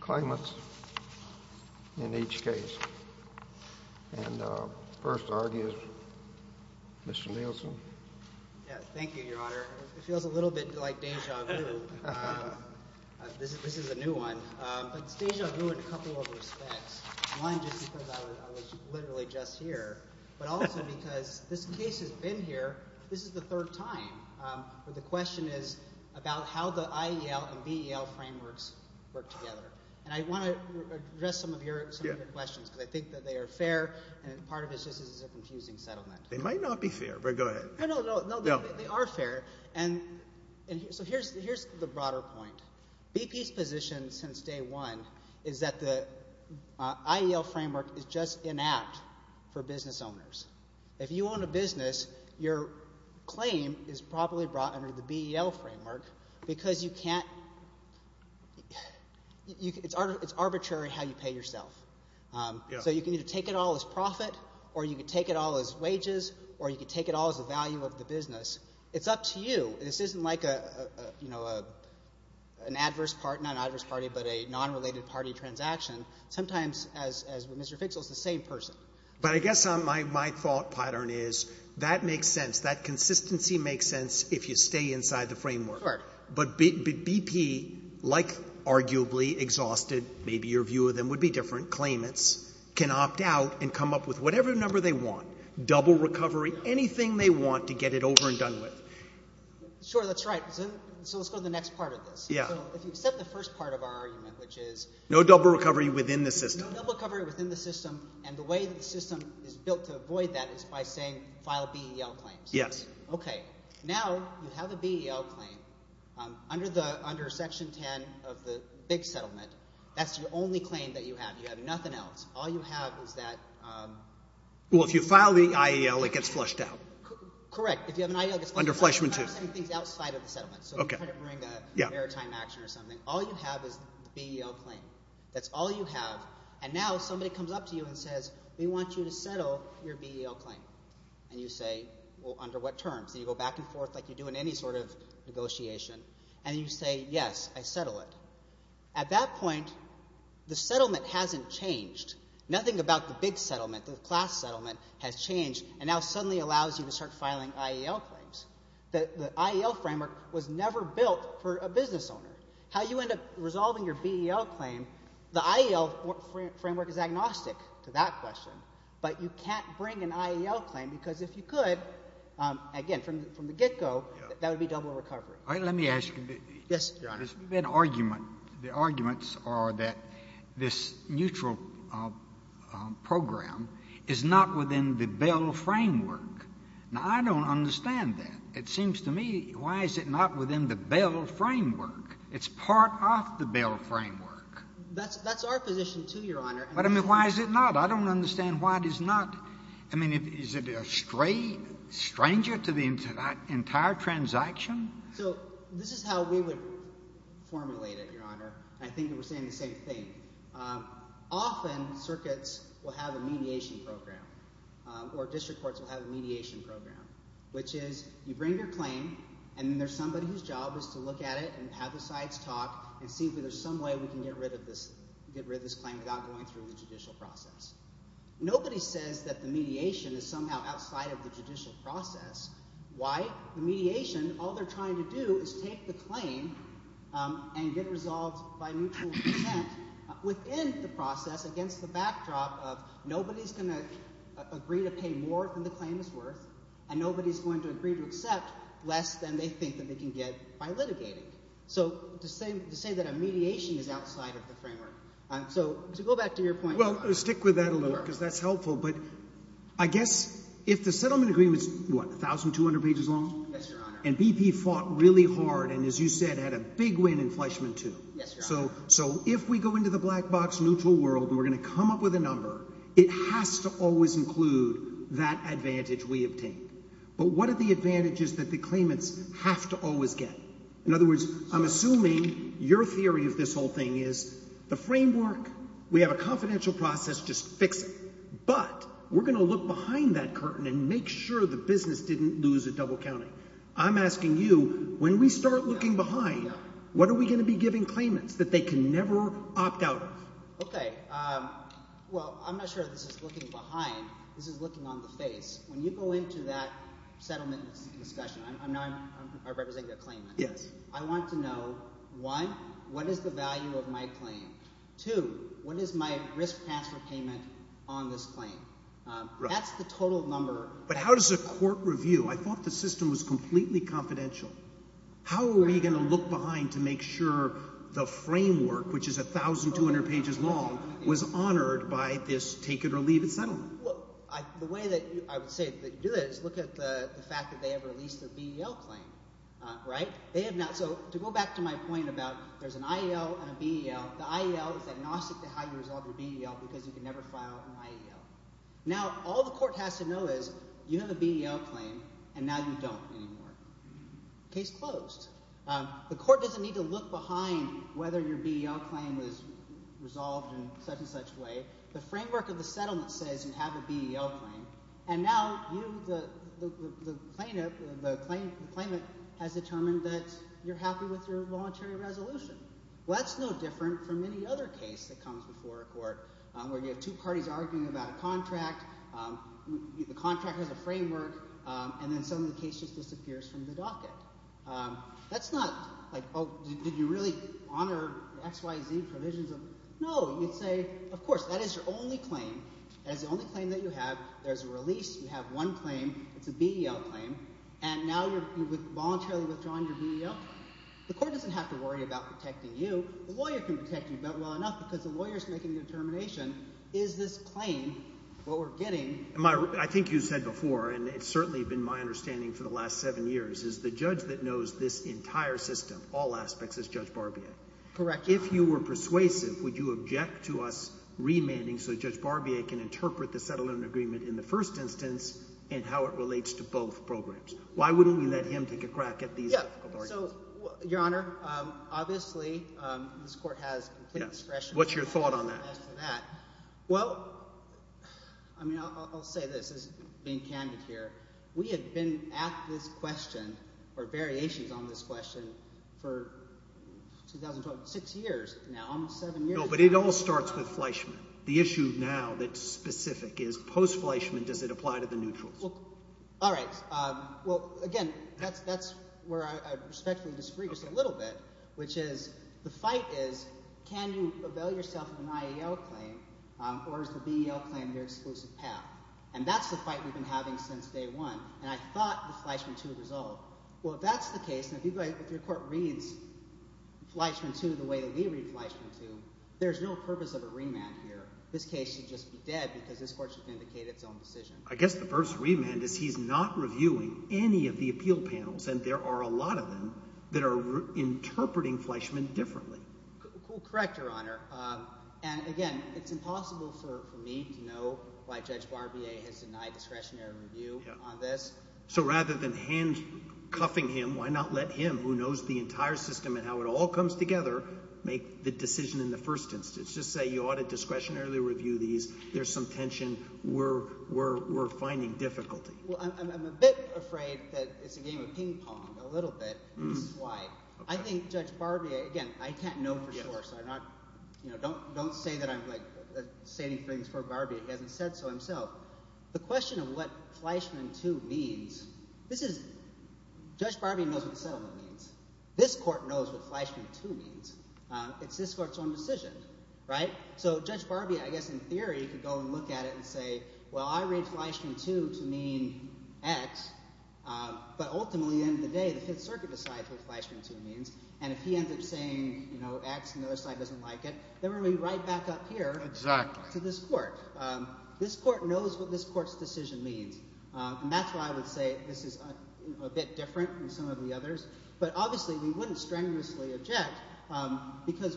Climates in each case. And first to argue is Mr. Nielsen. Thank you, Your Honor. It feels a little bit like déjà vu. This is a new one, but it's déjà vu in a couple of respects. One, just because I was literally just here, but also because this case has been here, this is the third time. But the question is about how the IEL and BEL frameworks work together. And I want to address some of your questions because I think that they are fair, and part of it is just this is a confusing settlement. They might not be fair, but go ahead. No, no, no. They are fair. And so here's the broader point. BP's position since day one is that the IEL framework is just inapt for business owners. If you own a business, your claim is probably brought under the BEL framework because you can't – it's arbitrary how you pay yourself. So you can either take it all as profit or you can take it all as wages or you can take it all as the value of the business. It's up to you. This isn't like an adverse – not an adverse party, but a non-related party transaction. Sometimes, as with Mr. Fixel, it's the same person. But I guess my thought pattern is that makes sense. That consistency makes sense if you stay inside the framework. But BP, like arguably exhausted – maybe your view of them would be different – claimants can opt out and come up with whatever number they want, double recovery, anything they want to get it over and done with. Sure, that's right. So let's go to the next part of this. Yeah. So if you accept the first part of our argument, which is – No double recovery within the system. No double recovery within the system, and the way the system is built to avoid that is by saying file BEL claims. Yes. Okay. Now you have a BEL claim. Under Section 10 of the big settlement, that's the only claim that you have. You have nothing else. All you have is that – Well, if you file the IEL, it gets flushed out. Correct. If you have an IEL, it gets flushed out. Under Fleshman too. So you try to bring a maritime action or something. All you have is the BEL claim. That's all you have. And now somebody comes up to you and says, we want you to settle your BEL claim. And you say, well, under what terms? And you go back and forth like you do in any sort of negotiation, and you say, yes, I settle it. At that point, the settlement hasn't changed. Nothing about the big settlement, the class settlement, has changed and now suddenly allows you to start filing IEL claims. The IEL framework was never built for a business owner. How you end up resolving your BEL claim, the IEL framework is agnostic to that question. But you can't bring an IEL claim because if you could, again, from the get-go, that would be double recovery. Let me ask you. Yes, Your Honor. There's been argument. The arguments are that this neutral program is not within the BEL framework. Now, I don't understand that. It seems to me, why is it not within the BEL framework? It's part of the BEL framework. That's our position too, Your Honor. But, I mean, why is it not? I don't understand why it is not. I mean, is it a stranger to the entire transaction? So this is how we would formulate it, Your Honor. I think that we're saying the same thing. Often, circuits will have a mediation program or district courts will have a mediation program, which is you bring your claim, and then there's somebody whose job is to look at it and have the sides talk and see if there's some way we can get rid of this claim without going through the judicial process. Nobody says that the mediation is somehow outside of the judicial process. Why? The mediation, all they're trying to do is take the claim and get it resolved by mutual consent within the process against the backdrop of nobody's going to agree to pay more than the claim is worth, and nobody's going to agree to accept less than they think that they can get by litigating. So to say that a mediation is outside of the framework. So to go back to your point, Your Honor. Well, stick with that a little bit because that's helpful. But I guess if the settlement agreement is, what, 1,200 pages long? Yes, Your Honor. And BP fought really hard and, as you said, had a big win in Fleshman too. Yes, Your Honor. So if we go into the black box neutral world and we're going to come up with a number, it has to always include that advantage we obtained. But what are the advantages that the claimants have to always get? In other words, I'm assuming your theory of this whole thing is the framework. We have a confidential process. Just fix it. But we're going to look behind that curtain and make sure the business didn't lose a double counting. I'm asking you, when we start looking behind, what are we going to be giving claimants that they can never opt out of? Okay. Well, I'm not sure this is looking behind. This is looking on the face. When you go into that settlement discussion, I know I'm representing a claimant. Yes. I want to know, one, what is the value of my claim? Two, what is my risk transfer payment on this claim? That's the total number. But how does a court review? I thought the system was completely confidential. How are we going to look behind to make sure the framework, which is 1,200 pages long, was honored by this take-it-or-leave-it settlement? The way that I would say that you do that is look at the fact that they have released their BEL claim. They have not. So to go back to my point about there's an IEL and a BEL, the IEL is agnostic to how you resolve your BEL because you can never file an IEL. Now, all the court has to know is you have a BEL claim, and now you don't anymore. Case closed. The court doesn't need to look behind whether your BEL claim was resolved in such-and-such a way. The framework of the settlement says you have a BEL claim, and now you, the claimant, has determined that you're happy with your voluntary resolution. Well, that's no different from any other case that comes before a court where you have two parties arguing about a contract. The contract has a framework, and then suddenly the case just disappears from the docket. That's not like, oh, did you really honor X, Y, Z provisions? No. You'd say, of course, that is your only claim. That is the only claim that you have. There's a release. You have one claim. It's a BEL claim. And now you're voluntarily withdrawing your BEL claim. The court doesn't have to worry about protecting you. The lawyer can protect you well enough because the lawyer is making the determination, is this claim what we're getting? I think you said before, and it's certainly been my understanding for the last seven years, is the judge that knows this entire system, all aspects, is Judge Barbier. Correct. If you were persuasive, would you object to us remanding so Judge Barbier can interpret the settlement agreement in the first instance and how it relates to both programs? Why wouldn't we let him take a crack at these difficult arguments? So, Your Honor, obviously this court has complete discretion. What's your thought on that? Well, I mean I'll say this as being candid here. We have been at this question or variations on this question for 2012 – six years now, almost seven years now. No, but it all starts with Fleischman. The issue now that's specific is post-Fleischman does it apply to the neutrals? All right. Well, again, that's where I respectfully disagree just a little bit, which is the fight is can you avail yourself of an IEL claim or is the BEL claim your exclusive path? And that's the fight we've been having since day one, and I thought the Fleischman II would resolve. Well, if that's the case and if your court reads Fleischman II the way that we read Fleischman II, there's no purpose of a remand here. This case should just be dead because this court should vindicate its own decision. I guess the first remand is he's not reviewing any of the appeal panels, and there are a lot of them that are interpreting Fleischman differently. Correct, Your Honor. And again, it's impossible for me to know why Judge Barbier has denied discretionary review on this. So rather than handcuffing him, why not let him, who knows the entire system and how it all comes together, make the decision in the first instance? Just say you ought to discretionarily review these. There's some tension. We're finding difficulty. Well, I'm a bit afraid that it's a game of ping pong, a little bit. This is why. I think Judge Barbier – again, I can't know for sure, so I'm not – don't say that I'm, like, stating things for Barbier. He hasn't said so himself. The question of what Fleischman II means – this is – Judge Barbier knows what the settlement means. This court knows what Fleischman II means. It's this court's own decision, right? So Judge Barbier, I guess in theory, could go and look at it and say, well, I read Fleischman II to mean X. But ultimately, at the end of the day, the Fifth Circuit decides what Fleischman II means. And if he ends up saying X and the other side doesn't like it, then we're going to be right back up here to this court. This court knows what this court's decision means, and that's why I would say this is a bit different than some of the others. But obviously we wouldn't strenuously object because,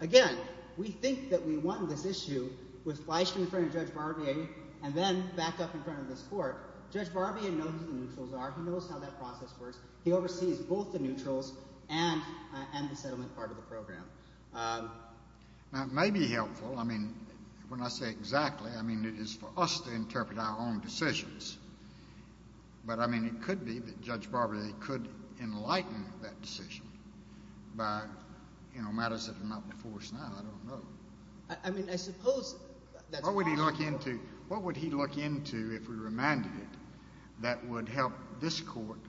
again, we think that we won this issue with Fleischman in front of Judge Barbier and then back up in front of this court. Judge Barbier knows who the neutrals are. He knows how that process works. He oversees both the neutrals and the settlement part of the program. Now, it may be helpful. I mean when I say exactly, I mean it is for us to interpret our own decisions. But, I mean, it could be that Judge Barbier could enlighten that decision by matters that are not before us now. I don't know. I mean I suppose that's possible. What would he look into if we remanded it that would help this court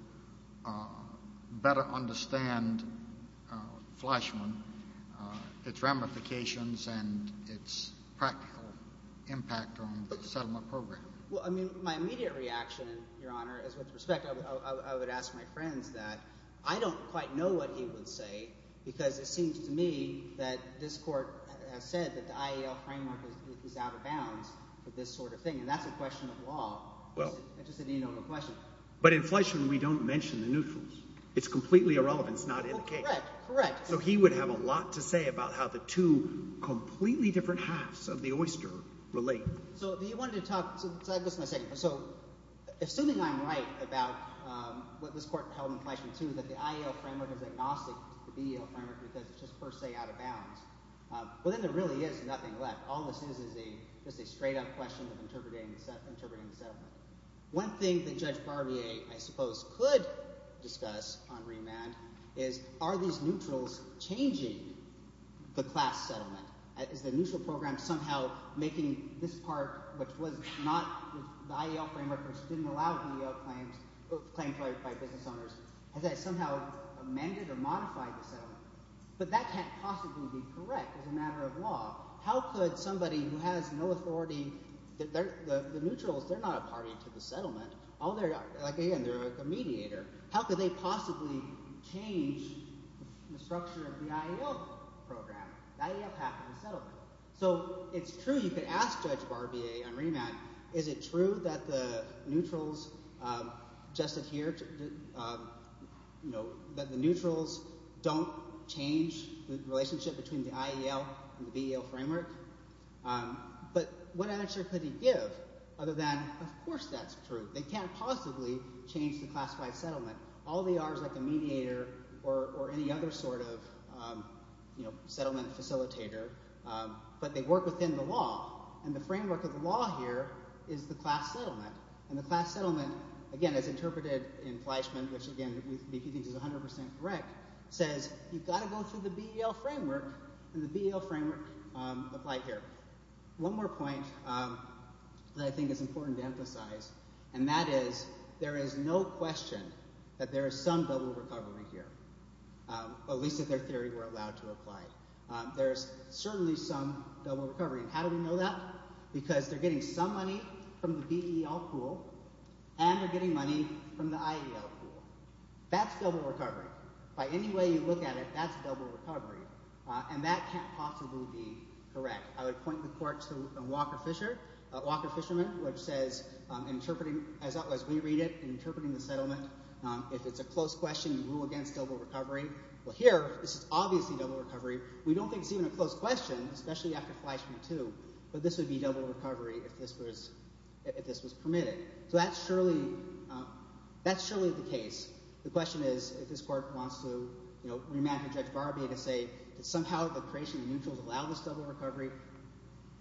better understand Fleischman, its ramifications, and its practical impact on the settlement program? Well, I mean my immediate reaction, Your Honor, is with respect – I would ask my friends that. I don't quite know what he would say because it seems to me that this court has said that the IAL framework is out of bounds for this sort of thing, and that's a question of law. It's just a denotable question. But in Fleischman, we don't mention the neutrals. It's completely irrelevant. It's not in the case. Correct, correct. So he would have a lot to say about how the two completely different halves of the oyster relate. So he wanted to talk – so just a second. So assuming I'm right about what this court held in Fleischman too, that the IAL framework is agnostic to the BEL framework because it's just per se out of bounds. Well, then there really is nothing left. All this is is just a straight-up question of interpreting the settlement. One thing that Judge Barbier, I suppose, could discuss on remand is are these neutrals changing the class settlement? Is the neutral program somehow making this part, which was not – the IAL framework which didn't allow BEL claims – claims by business owners. Has that somehow amended or modified the settlement? But that can't possibly be correct as a matter of law. How could somebody who has no authority – the neutrals, they're not a party to the settlement. Again, they're a mediator. How could they possibly change the structure of the IAL program? The IAL pact on the settlement. So it's true you could ask Judge Barbier on remand, is it true that the neutrals just adhere to – that the neutrals don't change the relationship between the IAL and the BEL framework? But what answer could he give other than of course that's true. They can't possibly change the classified settlement. All they are is like a mediator or any other sort of settlement facilitator, but they work within the law, and the framework of the law here is the class settlement. And the class settlement, again, as interpreted in Fleischman, which again we think is 100 percent correct, says you've got to go through the BEL framework, and the BEL framework applied here. One more point that I think is important to emphasize, and that is there is no question that there is some double recovery here, at least if their theory were allowed to apply. There is certainly some double recovery, and how do we know that? Because they're getting some money from the BEL pool, and they're getting money from the IAL pool. That's double recovery. By any way you look at it, that's double recovery, and that can't possibly be correct. I would point the court to Walker Fisherman, which says, as we read it, in interpreting the settlement, if it's a close question, rule against double recovery. Well, here this is obviously double recovery. We don't think it's even a close question, especially after Fleischman too, but this would be double recovery if this was permitted. So that's surely the case. The question is, if this court wants to re-imagine Judge Barbier to say that somehow the creation of mutuals allowed this double recovery,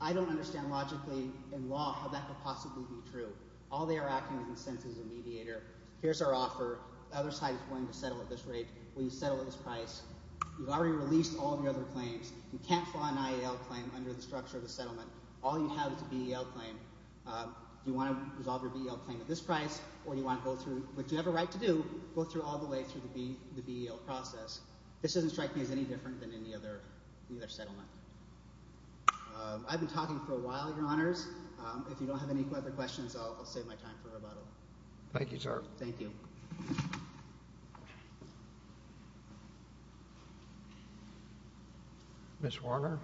I don't understand logically in law how that could possibly be true. All they are asking is consensus as a mediator. Here's our offer. The other side is willing to settle at this rate. Will you settle at this price? You've already released all of your other claims. You can't file an IAL claim under the structure of the settlement. All you have is a BEL claim. Do you want to resolve your BEL claim at this price or do you want to go through – if you have a right to do, go through all the way through the BEL process. This doesn't strike me as any different than any other settlement. I've been talking for a while, Your Honors. If you don't have any other questions, I'll save my time for rebuttal. Thank you, sir. Thank you. Ms. Warner.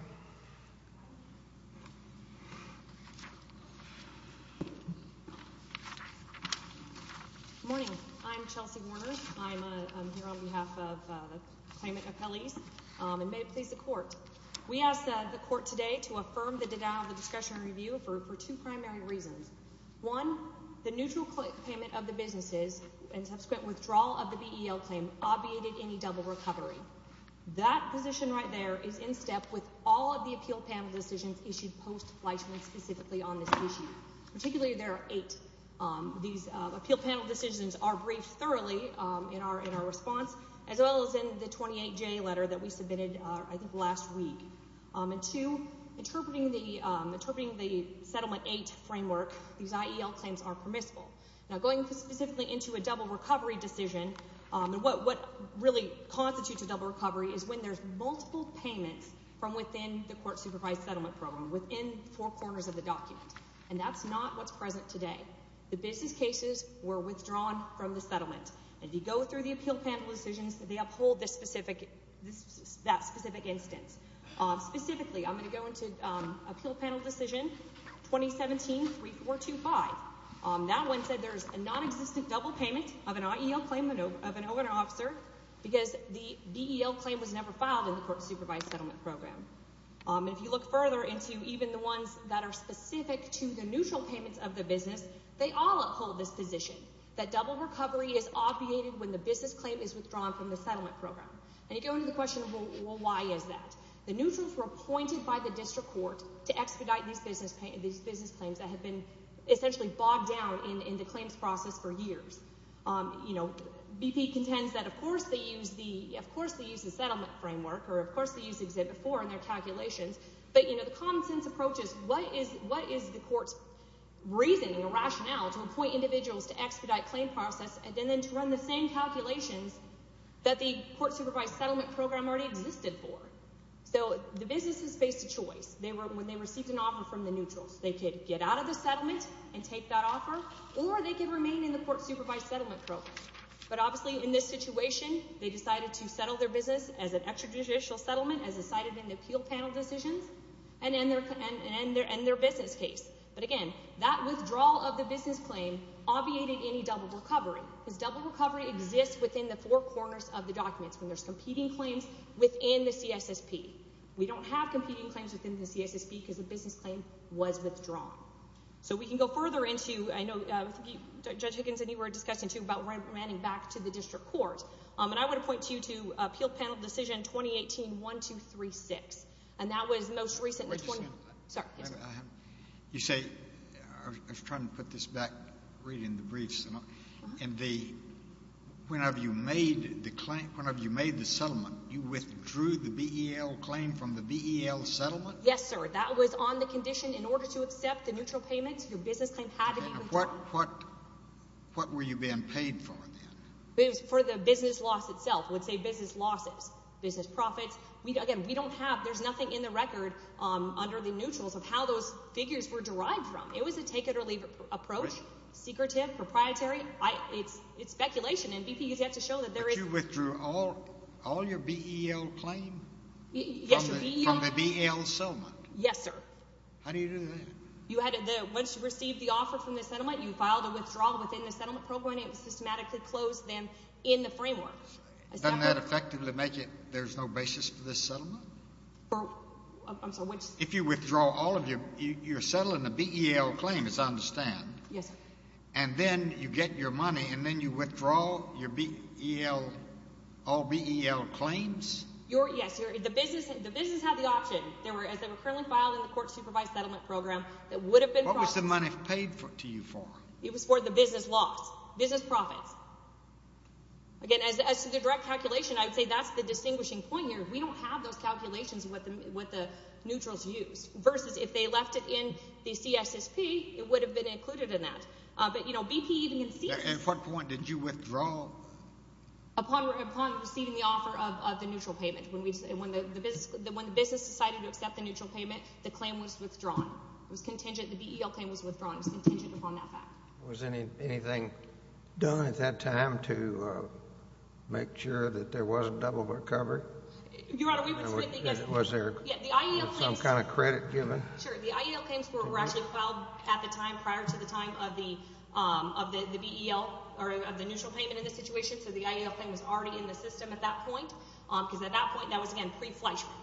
Good morning. I'm Chelsea Warner. I'm here on behalf of the claimant appellees, and may it please the court. We ask the court today to affirm the denial of the discussion and review for two primary reasons. One, the neutral payment of the businesses and subsequent withdrawal of the BEL claim obviated any double recovery. That position right there is in step with all of the appeal panel decisions issued post-Fleishman specifically on this issue. Particularly, there are eight. These appeal panel decisions are briefed thoroughly in our response, as well as in the 28-J letter that we submitted, I think, last week. And two, interpreting the Settlement 8 framework, these IEL claims are permissible. Now, going specifically into a double recovery decision, what really constitutes a double recovery is when there's multiple payments from within the court-supervised settlement program, within four corners of the document. And that's not what's present today. The business cases were withdrawn from the settlement. And if you go through the appeal panel decisions, they uphold that specific instance. Specifically, I'm going to go into appeal panel decision 2017-3425. That one said there's a nonexistent double payment of an IEL claim of an owner-officer because the BEL claim was never filed in the court-supervised settlement program. And if you look further into even the ones that are specific to the neutral payments of the business, they all uphold this position, that double recovery is obviated when the business claim is withdrawn from the settlement program. And you go into the question, well, why is that? The neutrals were appointed by the district court to expedite these business claims that had been essentially bogged down in the claims process for years. BP contends that, of course, they used the settlement framework or, of course, they used Exhibit 4 in their calculations. But the common-sense approach is what is the court's reasoning or rationale to appoint individuals to expedite claim process and then to run the same calculations that the court-supervised settlement program already existed for? So the businesses faced a choice when they received an offer from the neutrals. They could get out of the settlement and take that offer, or they could remain in the court-supervised settlement program. But obviously, in this situation, they decided to settle their business as an extrajudicial settlement as decided in the appeal panel decisions and end their business case. But again, that withdrawal of the business claim obviated any double recovery. Because double recovery exists within the four corners of the documents when there's competing claims within the CSSP. We don't have competing claims within the CSSP because the business claim was withdrawn. So we can go further into—I know Judge Higgins and you were discussing, too, about remanding back to the district court. And I want to point to you to Appeal Panel Decision 2018-1236. Wait a second. Sorry. You say—I was trying to put this back, reading the briefs. Whenever you made the settlement, you withdrew the BEL claim from the BEL settlement? Yes, sir. That was on the condition in order to accept the neutral payments, your business claim had to be withdrawn. What were you being paid for then? It was for the business loss itself. It would say business losses, business profits. Again, we don't have—there's nothing in the record under the neutrals of how those figures were derived from. It was a take-it-or-leave approach, secretive, proprietary. It's speculation, and BP has yet to show that there is— But you withdrew all your BEL claim from the BEL settlement? Yes, sir. How do you do that? Once you received the offer from the settlement, you filed a withdrawal within the settlement program. It systematically closed them in the framework. Doesn't that effectively make it there's no basis for this settlement? I'm sorry, which— If you withdraw all of your—you're settling a BEL claim, as I understand. Yes, sir. And then you get your money, and then you withdraw your BEL—all BEL claims? Yes. The business had the option. As they were currently filed in the court-supervised settlement program, there would have been profits. What was the money paid to you for? It was for the business loss, business profits. Again, as to the direct calculation, I would say that's the distinguishing point here. We don't have those calculations of what the neutrals used, versus if they left it in the CSSP, it would have been included in that. But BP even conceded— At what point did you withdraw? Upon receiving the offer of the neutral payment. When the business decided to accept the neutral payment, the claim was withdrawn. It was contingent—the BEL claim was withdrawn. It was contingent upon that fact. Was anything done at that time to make sure that there was a double recovery? Your Honor, we would submit— Was there some kind of credit given? Sure. The IEL claims were actually filed at the time, prior to the time of the BEL— or of the neutral payment in this situation, so the IEL claim was already in the system at that point, because at that point, that was, again, pre-fleshman.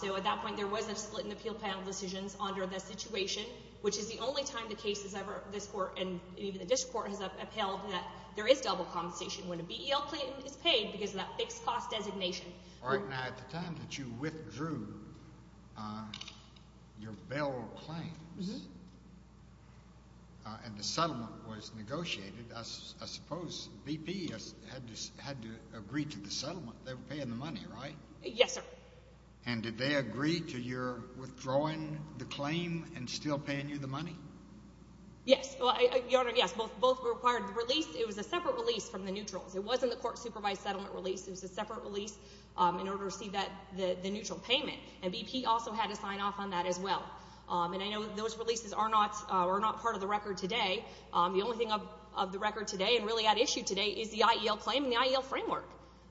So at that point, there was a split in the appeal panel decisions under the situation, which is the only time the case has ever—this Court and even the district court— has upheld that there is double compensation when a BEL claim is paid because of that fixed-cost designation. All right. Now, at the time that you withdrew your BEL claims and the settlement was negotiated, I suppose BP had to agree to the settlement. They were paying the money, right? Yes, sir. And did they agree to your withdrawing the claim and still paying you the money? Yes. Your Honor, yes. Both required the release. It was a separate release from the neutrals. It wasn't the court-supervised settlement release. It was a separate release in order to receive the neutral payment. And BP also had to sign off on that as well. And I know those releases are not part of the record today. The only thing of the record today and really at issue today is the IEL claim and the IEL framework.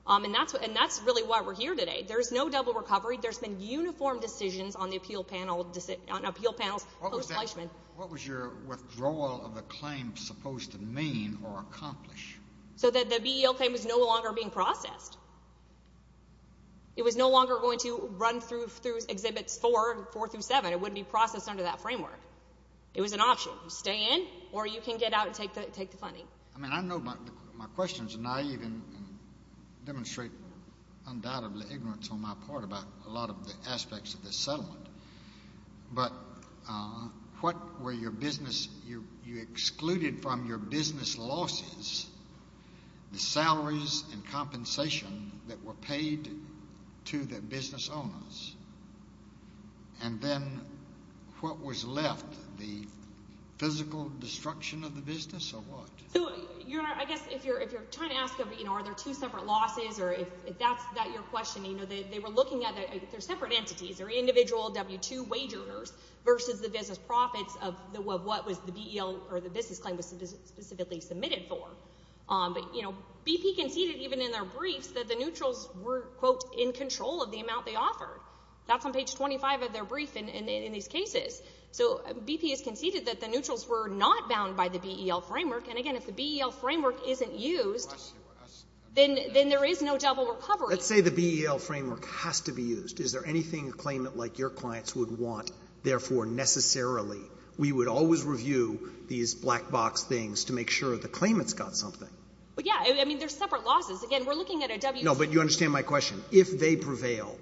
And that's really why we're here today. There is no double recovery. There's been uniform decisions on the appeal panel—on appeal panels post-Fleishman. What was your withdrawal of the claim supposed to mean or accomplish? So that the BEL claim was no longer being processed. It was no longer going to run through Exhibits 4 and 4 through 7. It wouldn't be processed under that framework. It was an option. You stay in or you can get out and take the funding. I mean, I know my questions are naive and demonstrate undoubtedly ignorance on my part about a lot of the aspects of this settlement. But what were your business—you excluded from your business losses the salaries and compensation that were paid to the business owners. And then what was left? The physical destruction of the business or what? So, Your Honor, I guess if you're trying to ask are there two separate losses or if that's your question, they were looking at—they're separate entities. They're individual W-2 wagers versus the business profits of what the BEL or the business claim was specifically submitted for. BP conceded even in their briefs that the neutrals were, quote, in control of the amount they offered. That's on page 25 of their brief in these cases. So BP has conceded that the neutrals were not bound by the BEL framework. And, again, if the BEL framework isn't used, then there is no double recovery. Let's say the BEL framework has to be used. Is there anything a claimant like your clients would want? We would always review these black box things to make sure the claimant's got something. But, yeah, I mean, they're separate losses. Again, we're looking at a W-2— No, but you understand my question. If they prevail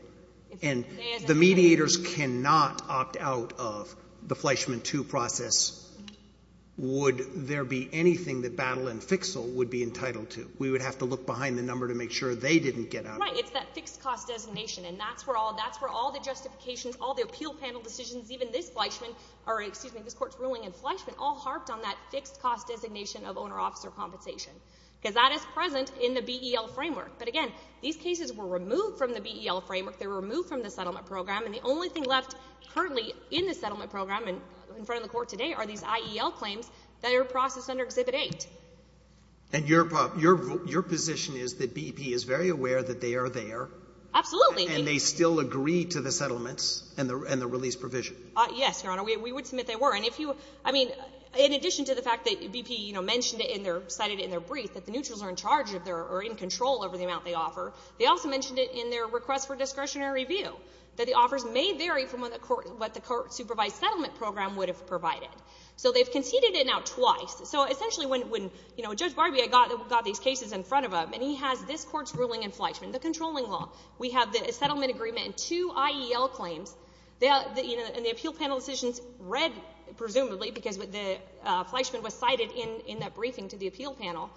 and the mediators cannot opt out of the Fleischman II process, would there be anything that Battle and Fixel would be entitled to? We would have to look behind the number to make sure they didn't get out of it. Right. It's that fixed-cost designation. And that's where all the justifications, all the appeal panel decisions, even this court's ruling in Fleischman, all harped on that fixed-cost designation of owner-officer compensation because that is present in the BEL framework. But, again, these cases were removed from the BEL framework. They were removed from the settlement program. And the only thing left currently in the settlement program and in front of the court today are these IEL claims that are processed under Exhibit 8. And your position is that BP is very aware that they are there. Absolutely. And they still agree to the settlements and the release provision. Yes, Your Honor. We would submit they were. And if you—I mean, in addition to the fact that BP, you know, mentioned it in their—cited it in their brief that the neutrals are in charge or in control over the amount they offer, they also mentioned it in their request for discretionary review, that the offers may vary from what the court— what the court-supervised settlement program would have provided. So they've conceded it now twice. So, essentially, when, you know, Judge Barbier got these cases in front of him, and he has this court's ruling in Fleischman, the controlling law, we have the settlement agreement and two IEL claims. And the appeal panelist read, presumably, because Fleischman was cited in that briefing to the appeal panel,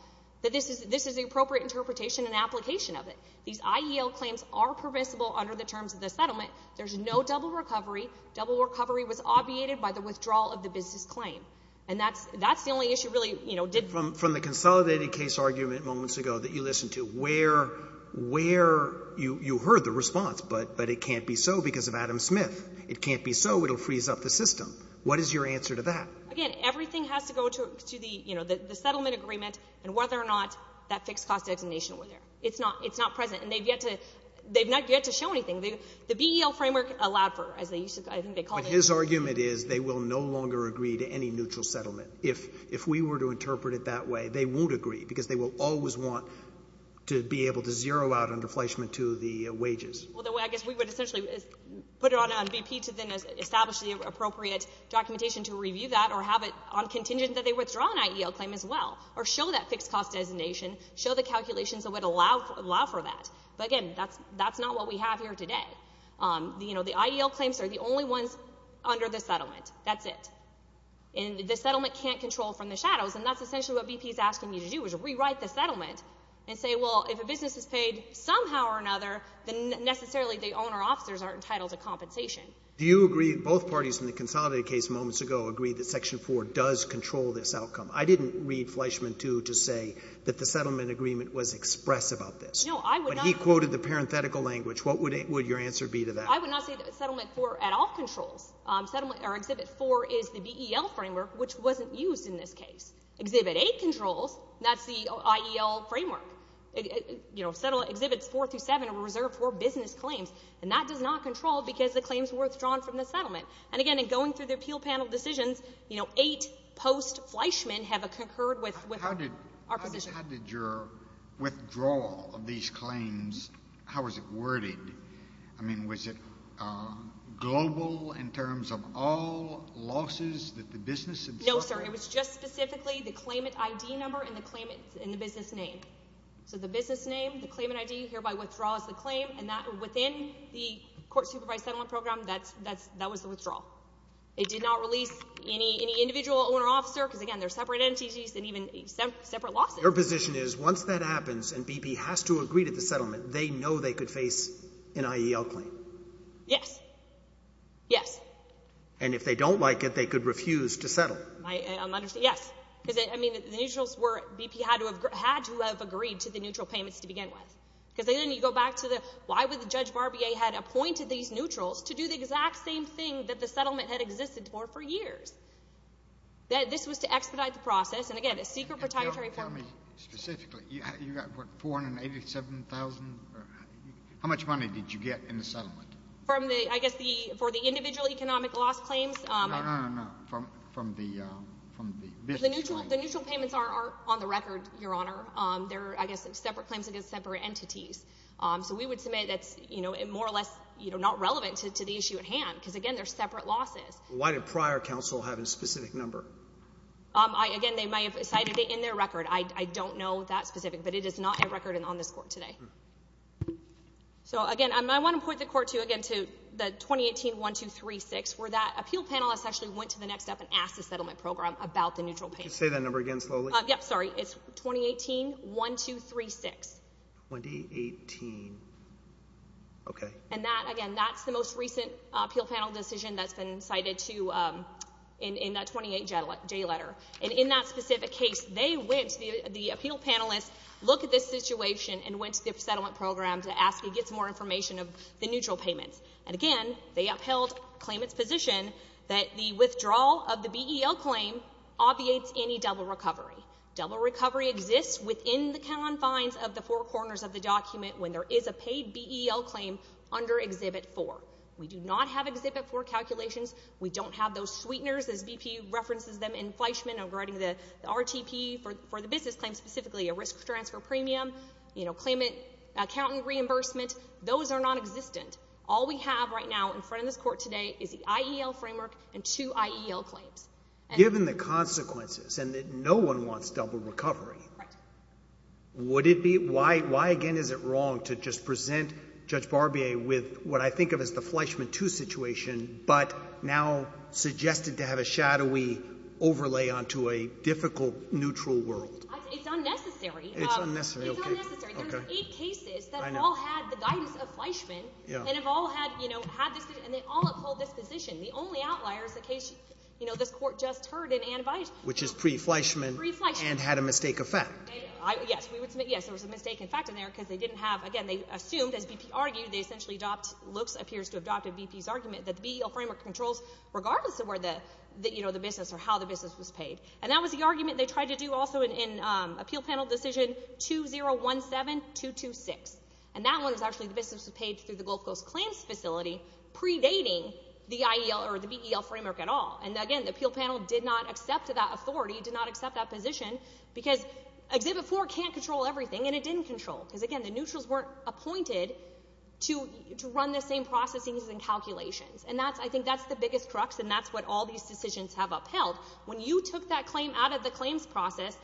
that this is the appropriate interpretation and application of it. These IEL claims are permissible under the terms of the settlement. There's no double recovery. Double recovery was obviated by the withdrawal of the business claim. And that's the only issue really, you know, did— From the consolidated case argument moments ago that you listened to, where you heard the response, but it can't be so because of Adam Smith. It can't be so. It will freeze up the system. What is your answer to that? Again, everything has to go to the, you know, the settlement agreement and whether or not that fixed-cost detonation were there. It's not present. And they've yet to—they've not yet to show anything. The BEL framework allowed for, as I think they called it— But his argument is they will no longer agree to any neutral settlement. If we were to interpret it that way, they won't agree because they will always want to be able to zero out on deflation to the wages. I guess we would essentially put it on BP to then establish the appropriate documentation to review that or have it on contingent that they withdraw an IEL claim as well or show that fixed-cost detonation, show the calculations that would allow for that. But, again, that's not what we have here today. You know, the IEL claims are the only ones under the settlement. That's it. And the settlement can't control from the shadows, and that's essentially what BP is asking you to do is rewrite the settlement and say, well, if a business is paid somehow or another, then necessarily the owner-officers are entitled to compensation. Do you agree that both parties in the Consolidated case moments ago agreed that Section 4 does control this outcome? I didn't read Fleischman, too, to say that the settlement agreement was expressive of this. No, I would not— But he quoted the parenthetical language. What would your answer be to that? I would not say that Settlement 4 at all controls. Exhibit 4 is the BEL framework, which wasn't used in this case. Exhibit 8 controls. That's the IEL framework. Exhibits 4 through 7 are reserved for business claims, and that does not control because the claims were withdrawn from the settlement. And, again, in going through the appeal panel decisions, eight post-Fleischman have concurred with our position. How did your withdrawal of these claims—how was it worded? I mean, was it global in terms of all losses that the business had suffered? No, sir. It was just specifically the claimant ID number and the business name. So the business name, the claimant ID, hereby withdraws the claim, and within the court-supervised settlement program, that was the withdrawal. It did not release any individual owner-officer because, again, they're separate entities and even separate losses. Your position is once that happens and BP has to agree to the settlement, they know they could face an IEL claim? Yes. Yes. And if they don't like it, they could refuse to settle? Yes, because, I mean, the neutrals were— BP had to have agreed to the neutral payments to begin with because then you go back to the— why would Judge Barbier had appointed these neutrals to do the exact same thing that the settlement had existed for for years? This was to expedite the process. And, again, a secret protocol— Tell me specifically, you got what, $487,000? How much money did you get in the settlement? From the—I guess for the individual economic loss claims— No, no, no, no, no. From the— The neutral payments are on the record, Your Honor. They're, I guess, separate claims against separate entities. So we would submit that's more or less not relevant to the issue at hand because, again, they're separate losses. Why did prior counsel have a specific number? Again, they might have cited it in their record. I don't know that specific, but it is not a record on this court today. So, again, I want to point the court to, again, to the 2018-1236 where that appeal panelist actually went to the next step and asked the settlement program about the neutral payments. Say that number again slowly. Yep, sorry. It's 2018-1236. 2018. Okay. And that, again, that's the most recent appeal panel decision that's been cited to—in that 28-J letter. And in that specific case, they went, the appeal panelist, looked at this situation and went to the settlement program to ask to get some more information of the neutral payments. And, again, they upheld claimant's position that the withdrawal of the BEL claim obviates any double recovery. Double recovery exists within the confines of the four corners of the document when there is a paid BEL claim under Exhibit 4. We do not have Exhibit 4 calculations. We don't have those sweeteners, as BP references them in Fleischman regarding the RTP for the business claim specifically, a risk transfer premium, claimant accountant reimbursement. Those are nonexistent. All we have right now in front of this court today is the IEL framework and two IEL claims. Given the consequences and that no one wants double recovery, would it be—why, again, is it wrong to just present Judge Barbier with what I think of as the Fleischman II situation but now suggested to have a shadowy overlay onto a difficult neutral world? It's unnecessary. It's unnecessary, okay. It's unnecessary. There are eight cases that all had the guidance of Fleischman and have all had, you know, had this, and they all upheld this position. The only outlier is the case, you know, this Court just heard in Anabias. Which is pre-Fleischman. Pre-Fleischman. And had a mistake of fact. Yes. Yes, there was a mistake of fact in there because they didn't have, again, they assumed, as BP argued, they essentially adopt, looks, appears to have adopted BP's argument that the BEL framework controls regardless of where the, you know, the business or how the business was paid. And that was the argument they tried to do also in Appeal Panel Decision 2017-226. And that one was actually the business was paid through the Gulf Coast Claims Facility predating the IEL or the BEL framework at all. And, again, the Appeal Panel did not accept that authority, did not accept that position because Exhibit 4 can't control everything, and it didn't control. Because, again, the neutrals weren't appointed to run the same processes and calculations. And that's, I think, that's the biggest crux, and that's what all these decisions have upheld. When you took that claim out of the claims process,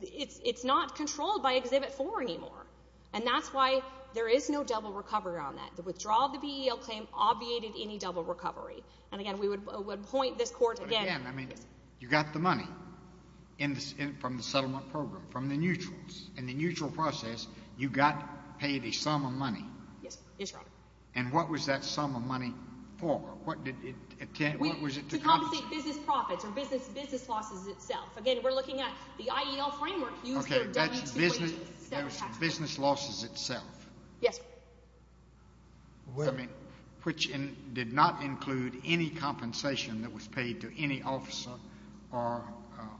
it's not controlled by Exhibit 4 anymore. And that's why there is no double recovery on that. The withdrawal of the BEL claim obviated any double recovery. And, again, we would point this Court again. But, again, I mean, you got the money from the settlement program, from the neutrals. In the neutral process, you got paid a sum of money. Yes, Your Honor. And what was that sum of money for? What was it to compensate? To compensate business profits or business losses itself. Again, we're looking at the IEL framework. Okay, that's business losses itself. Yes, Your Honor. Which did not include any compensation that was paid to any officer or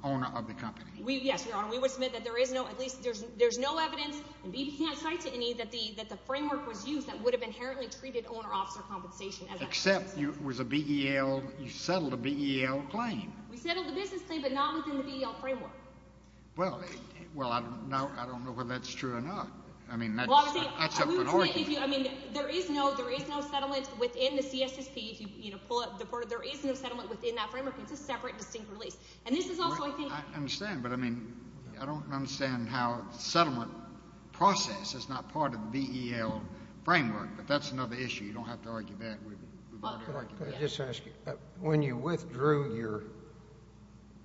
owner of the company. Yes, Your Honor. And we would submit that there is no, at least there's no evidence, and B.B. can't cite to any, that the framework was used that would have inherently treated owner-officer compensation. Except you settled a BEL claim. We settled a business claim, but not within the BEL framework. Well, I don't know whether that's true or not. I mean, that's up for argument. I mean, there is no settlement within the CSSP. There is no settlement within that framework. It's a separate, distinct release. I understand, but I mean, I don't understand how settlement process is not part of the BEL framework, but that's another issue. You don't have to argue that. Can I just ask you, when you withdrew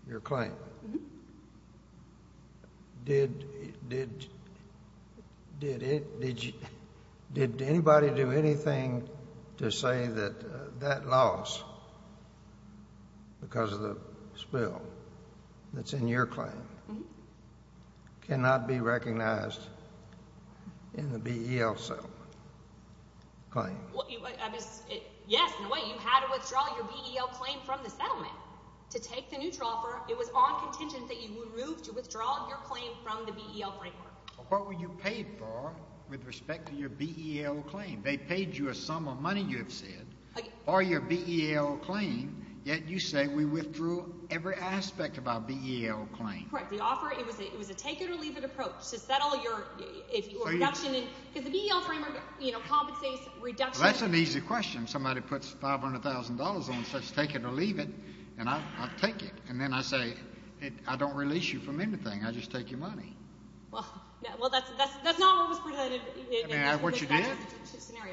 your claim, did anybody do anything to say that that loss, because of the spill that's in your claim, cannot be recognized in the BEL settlement claim? Yes, in a way. You had to withdraw your BEL claim from the settlement to take the new transfer. It was on contention that you would move to withdraw your claim from the BEL framework. What were you paid for with respect to your BEL claim? They paid you a sum of money, you have said, for your BEL claim, yet you say we withdrew every aspect of our BEL claim. Correct. The offer, it was a take-it-or-leave-it approach to settle your reduction. Because the BEL framework, you know, compensates reduction. That's an easy question. Somebody puts $500,000 on such take-it-or-leave-it, and I'll take it. And then I say, I don't release you from anything. I just take your money. Well, that's not what was presented. What you did?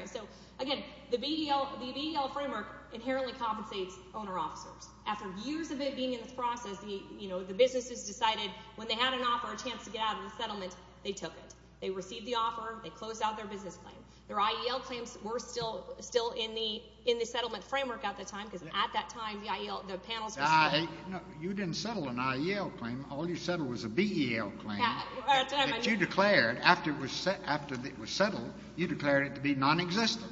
So, again, the BEL framework inherently compensates owner-officers. After years of it being in the process, you know, the businesses decided when they had an offer, a chance to get out of the settlement, they took it. They received the offer. They closed out their business claim. Their IEL claims were still in the settlement framework at the time, because at that time the IEL, the panels were still. You didn't settle an IEL claim. All you settled was a BEL claim that you declared after it was settled. You declared it to be nonexistent.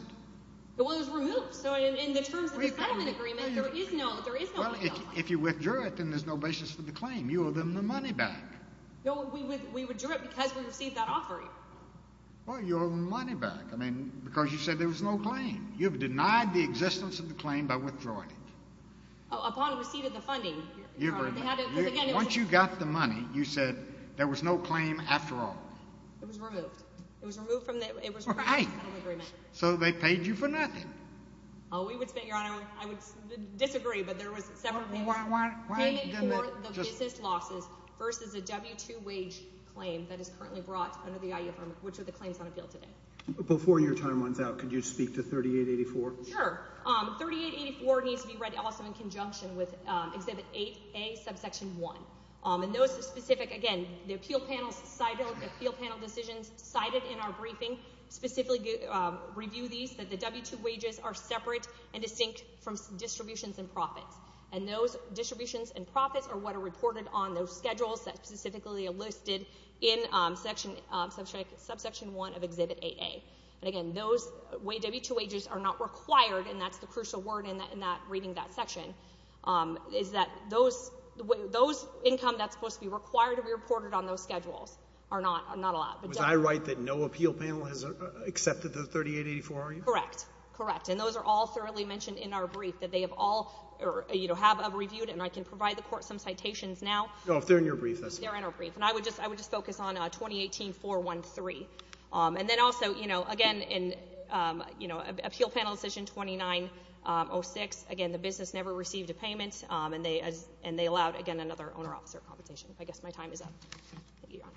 Well, it was removed. So in the terms of the settlement agreement, there is no IEL claim. Well, if you withdrew it, then there's no basis for the claim. You owe them the money back. No, we withdrew it because we received that offer. I mean, because you said there was no claim. You have denied the existence of the claim by withdrawing it. Upon receipt of the funding. Once you got the money, you said there was no claim after all. It was removed. It was removed from the settlement agreement. So they paid you for nothing. Oh, we would spend, Your Honor, I would disagree, but there was several payments. Payment for the business losses versus a W-2 wage claim that is currently brought under the IEL framework, which are the claims on appeal today. Before your time runs out, could you speak to 3884? Sure. 3884 needs to be read also in conjunction with Exhibit 8A, subsection 1. And those specific, again, the appeal panel decisions cited in our briefing specifically review these, that the W-2 wages are separate and distinct from distributions and profits. And those distributions and profits are what are reported on those schedules that specifically are listed in subsection 1 of Exhibit 8A. And, again, those W-2 wages are not required, and that's the crucial word in reading that section, is that those income that's supposed to be required to be reported on those schedules are not allowed. Was I right that no appeal panel has accepted the 3884 argument? Correct, correct. And those are all thoroughly mentioned in our brief, that they have all, you know, have reviewed, and I can provide the court some citations now. No, if they're in your brief, that's fine. They're in our brief. And I would just focus on 2018-413. And then also, you know, again, in, you know, appeal panel decision 2906, again, the business never received a payment, and they allowed, again, another owner-officer compensation. I guess my time is up. Thank you, Your Honor.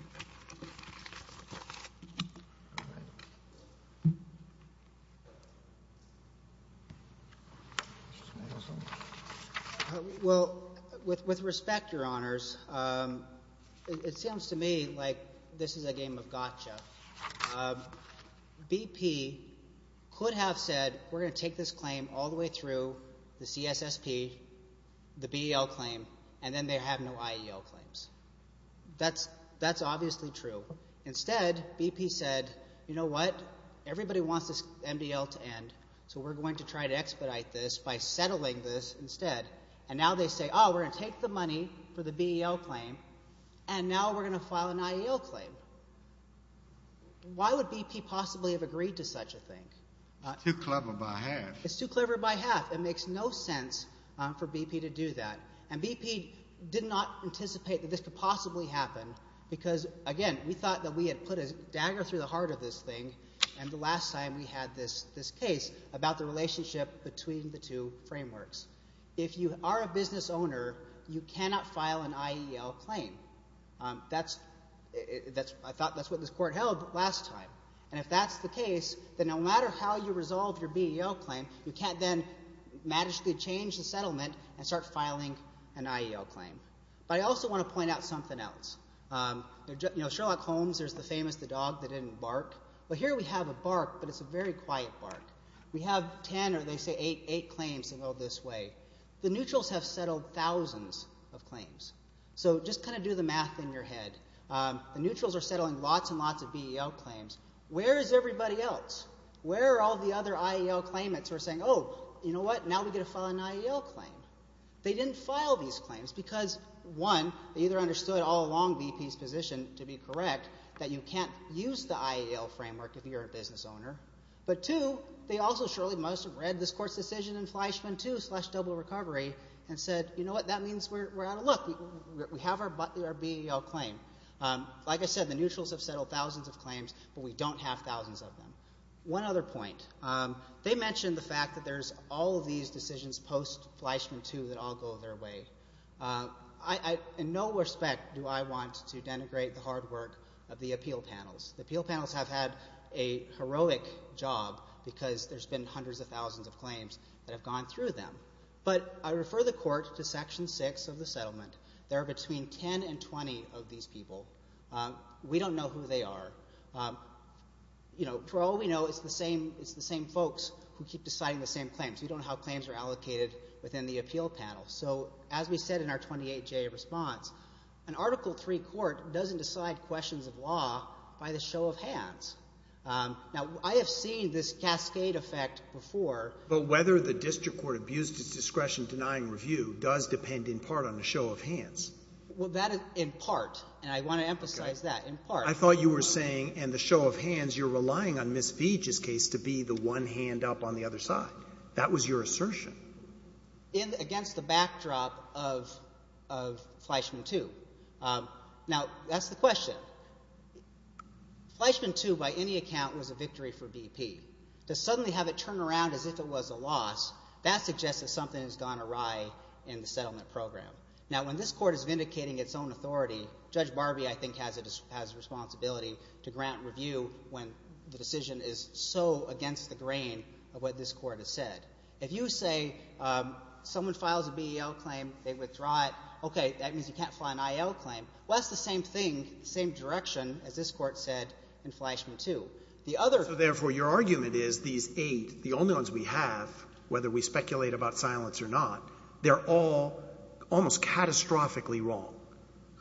Well, with respect, Your Honors, it sounds to me like this is a game of gotcha. BP could have said, we're going to take this claim all the way through the CSSP, the BEL claim, and then they have no IEL claims. That's obviously true. Instead, BP said, you know what, everybody wants this MDL to end, so we're going to try to expedite this by settling this instead. And now they say, oh, we're going to take the money for the BEL claim, and now we're going to file an IEL claim. Why would BP possibly have agreed to such a thing? Too clever by half. It's too clever by half. It makes no sense for BP to do that. And BP did not anticipate that this could possibly happen because, again, we thought that we had put a dagger through the heart of this thing, and the last time we had this case about the relationship between the two frameworks. If you are a business owner, you cannot file an IEL claim. I thought that's what this court held last time. And if that's the case, then no matter how you resolve your BEL claim, you can't then magically change the settlement and start filing an IEL claim. But I also want to point out something else. Sherlock Holmes, there's the famous dog that didn't bark. Well, here we have a bark, but it's a very quiet bark. We have ten or, they say, eight claims that go this way. The neutrals have settled thousands of claims. So just kind of do the math in your head. The neutrals are settling lots and lots of BEL claims. Where is everybody else? Where are all the other IEL claimants who are saying, oh, you know what, now we get to file an IEL claim? They didn't file these claims because, one, they either understood all along BP's position, to be correct, that you can't use the IEL framework if you're a business owner. But, two, they also surely must have read this court's decision in Fleischman 2 slash double recovery and said, you know what, that means we're out of luck. We have our BEL claim. Like I said, the neutrals have settled thousands of claims, but we don't have thousands of them. One other point. They mentioned the fact that there's all of these decisions post-Fleischman 2 that all go their way. In no respect do I want to denigrate the hard work of the appeal panels. The appeal panels have had a heroic job because there's been hundreds of thousands of claims that have gone through them. But I refer the court to Section 6 of the settlement. There are between 10 and 20 of these people. We don't know who they are. For all we know, it's the same folks who keep deciding the same claims. We don't know how claims are allocated within the appeal panel. So as we said in our 28-J response, an Article III court doesn't decide questions of law by the show of hands. Now, I have seen this cascade effect before. But whether the district court abused its discretion denying review does depend in part on the show of hands. Well, that is in part, and I want to emphasize that, in part. I thought you were saying in the show of hands you're relying on Ms. Veach's case to be the one hand up on the other side. That was your assertion. Against the backdrop of Fleischman 2. Now, that's the question. Fleischman 2, by any account, was a victory for BP. To suddenly have it turn around as if it was a loss, that suggests that something has gone awry in the settlement program. Now, when this court is vindicating its own authority, Judge Barbie, I think, has a responsibility to grant review when the decision is so against the grain of what this court has said. If you say someone files a BEL claim, they withdraw it. Okay. That means you can't file an IL claim. Well, that's the same thing, the same direction as this court said in Fleischman 2. The other — So, therefore, your argument is these eight, the only ones we have, whether we speculate about silence or not, they're all almost catastrophically wrong.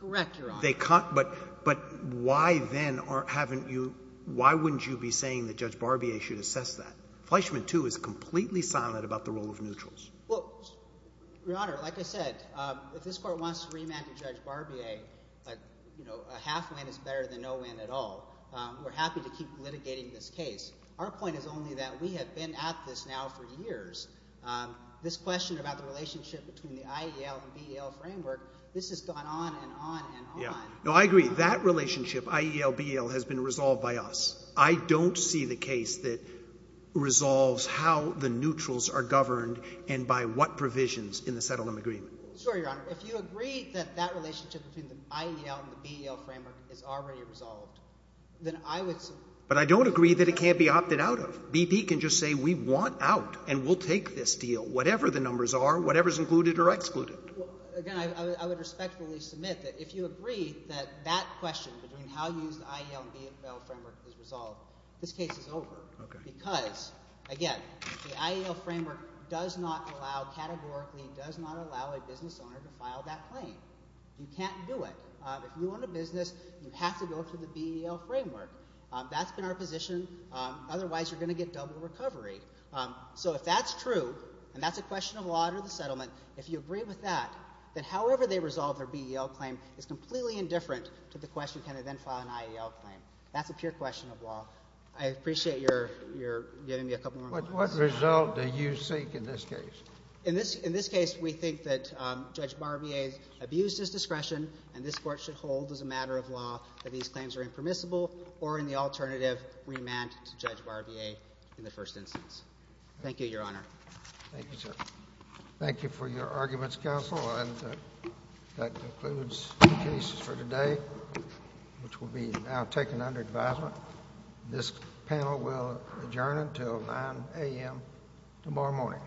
Correct, Your Honor. But why then haven't you — why wouldn't you be saying that Judge Barbie should assess that? Fleischman 2 is completely silent about the role of neutrals. Well, Your Honor, like I said, if this court wants to remand to Judge Barbie a, you know, a half-win is better than no win at all, we're happy to keep litigating this case. Our point is only that we have been at this now for years. This question about the relationship between the IEL and BEL framework, this has gone on and on and on. Yeah. No, I agree. That relationship, IEL-BEL, has been resolved by us. I don't see the case that resolves how the neutrals are governed and by what provisions in the settlement agreement. Sure, Your Honor. If you agree that that relationship between the IEL and the BEL framework is already resolved, then I would — But I don't agree that it can't be opted out of. BP can just say we want out and we'll take this deal, whatever the numbers are, whatever is included or excluded. Well, again, I would respectfully submit that if you agree that that question between how you use the IEL and BEL framework is resolved, this case is over. Okay. Because, again, the IEL framework does not allow, categorically, does not allow a business owner to file that claim. You can't do it. If you own a business, you have to go through the BEL framework. That's been our position. Otherwise, you're going to get double recovery. So if that's true, and that's a question of law under the settlement, if you agree with that, then however they resolve their BEL claim is completely indifferent to the question, can I then file an IEL claim? That's a pure question of law. I appreciate your giving me a couple more moments. What result do you seek in this case? In this case, we think that Judge Barbier abused his discretion, and this Court should hold as a matter of law that these claims are impermissible or in the alternative remand to Judge Barbier in the first instance. Thank you, Your Honor. Thank you, sir. That concludes the cases for today, which will be now taken under advisement. This panel will adjourn until 9 a.m. tomorrow morning.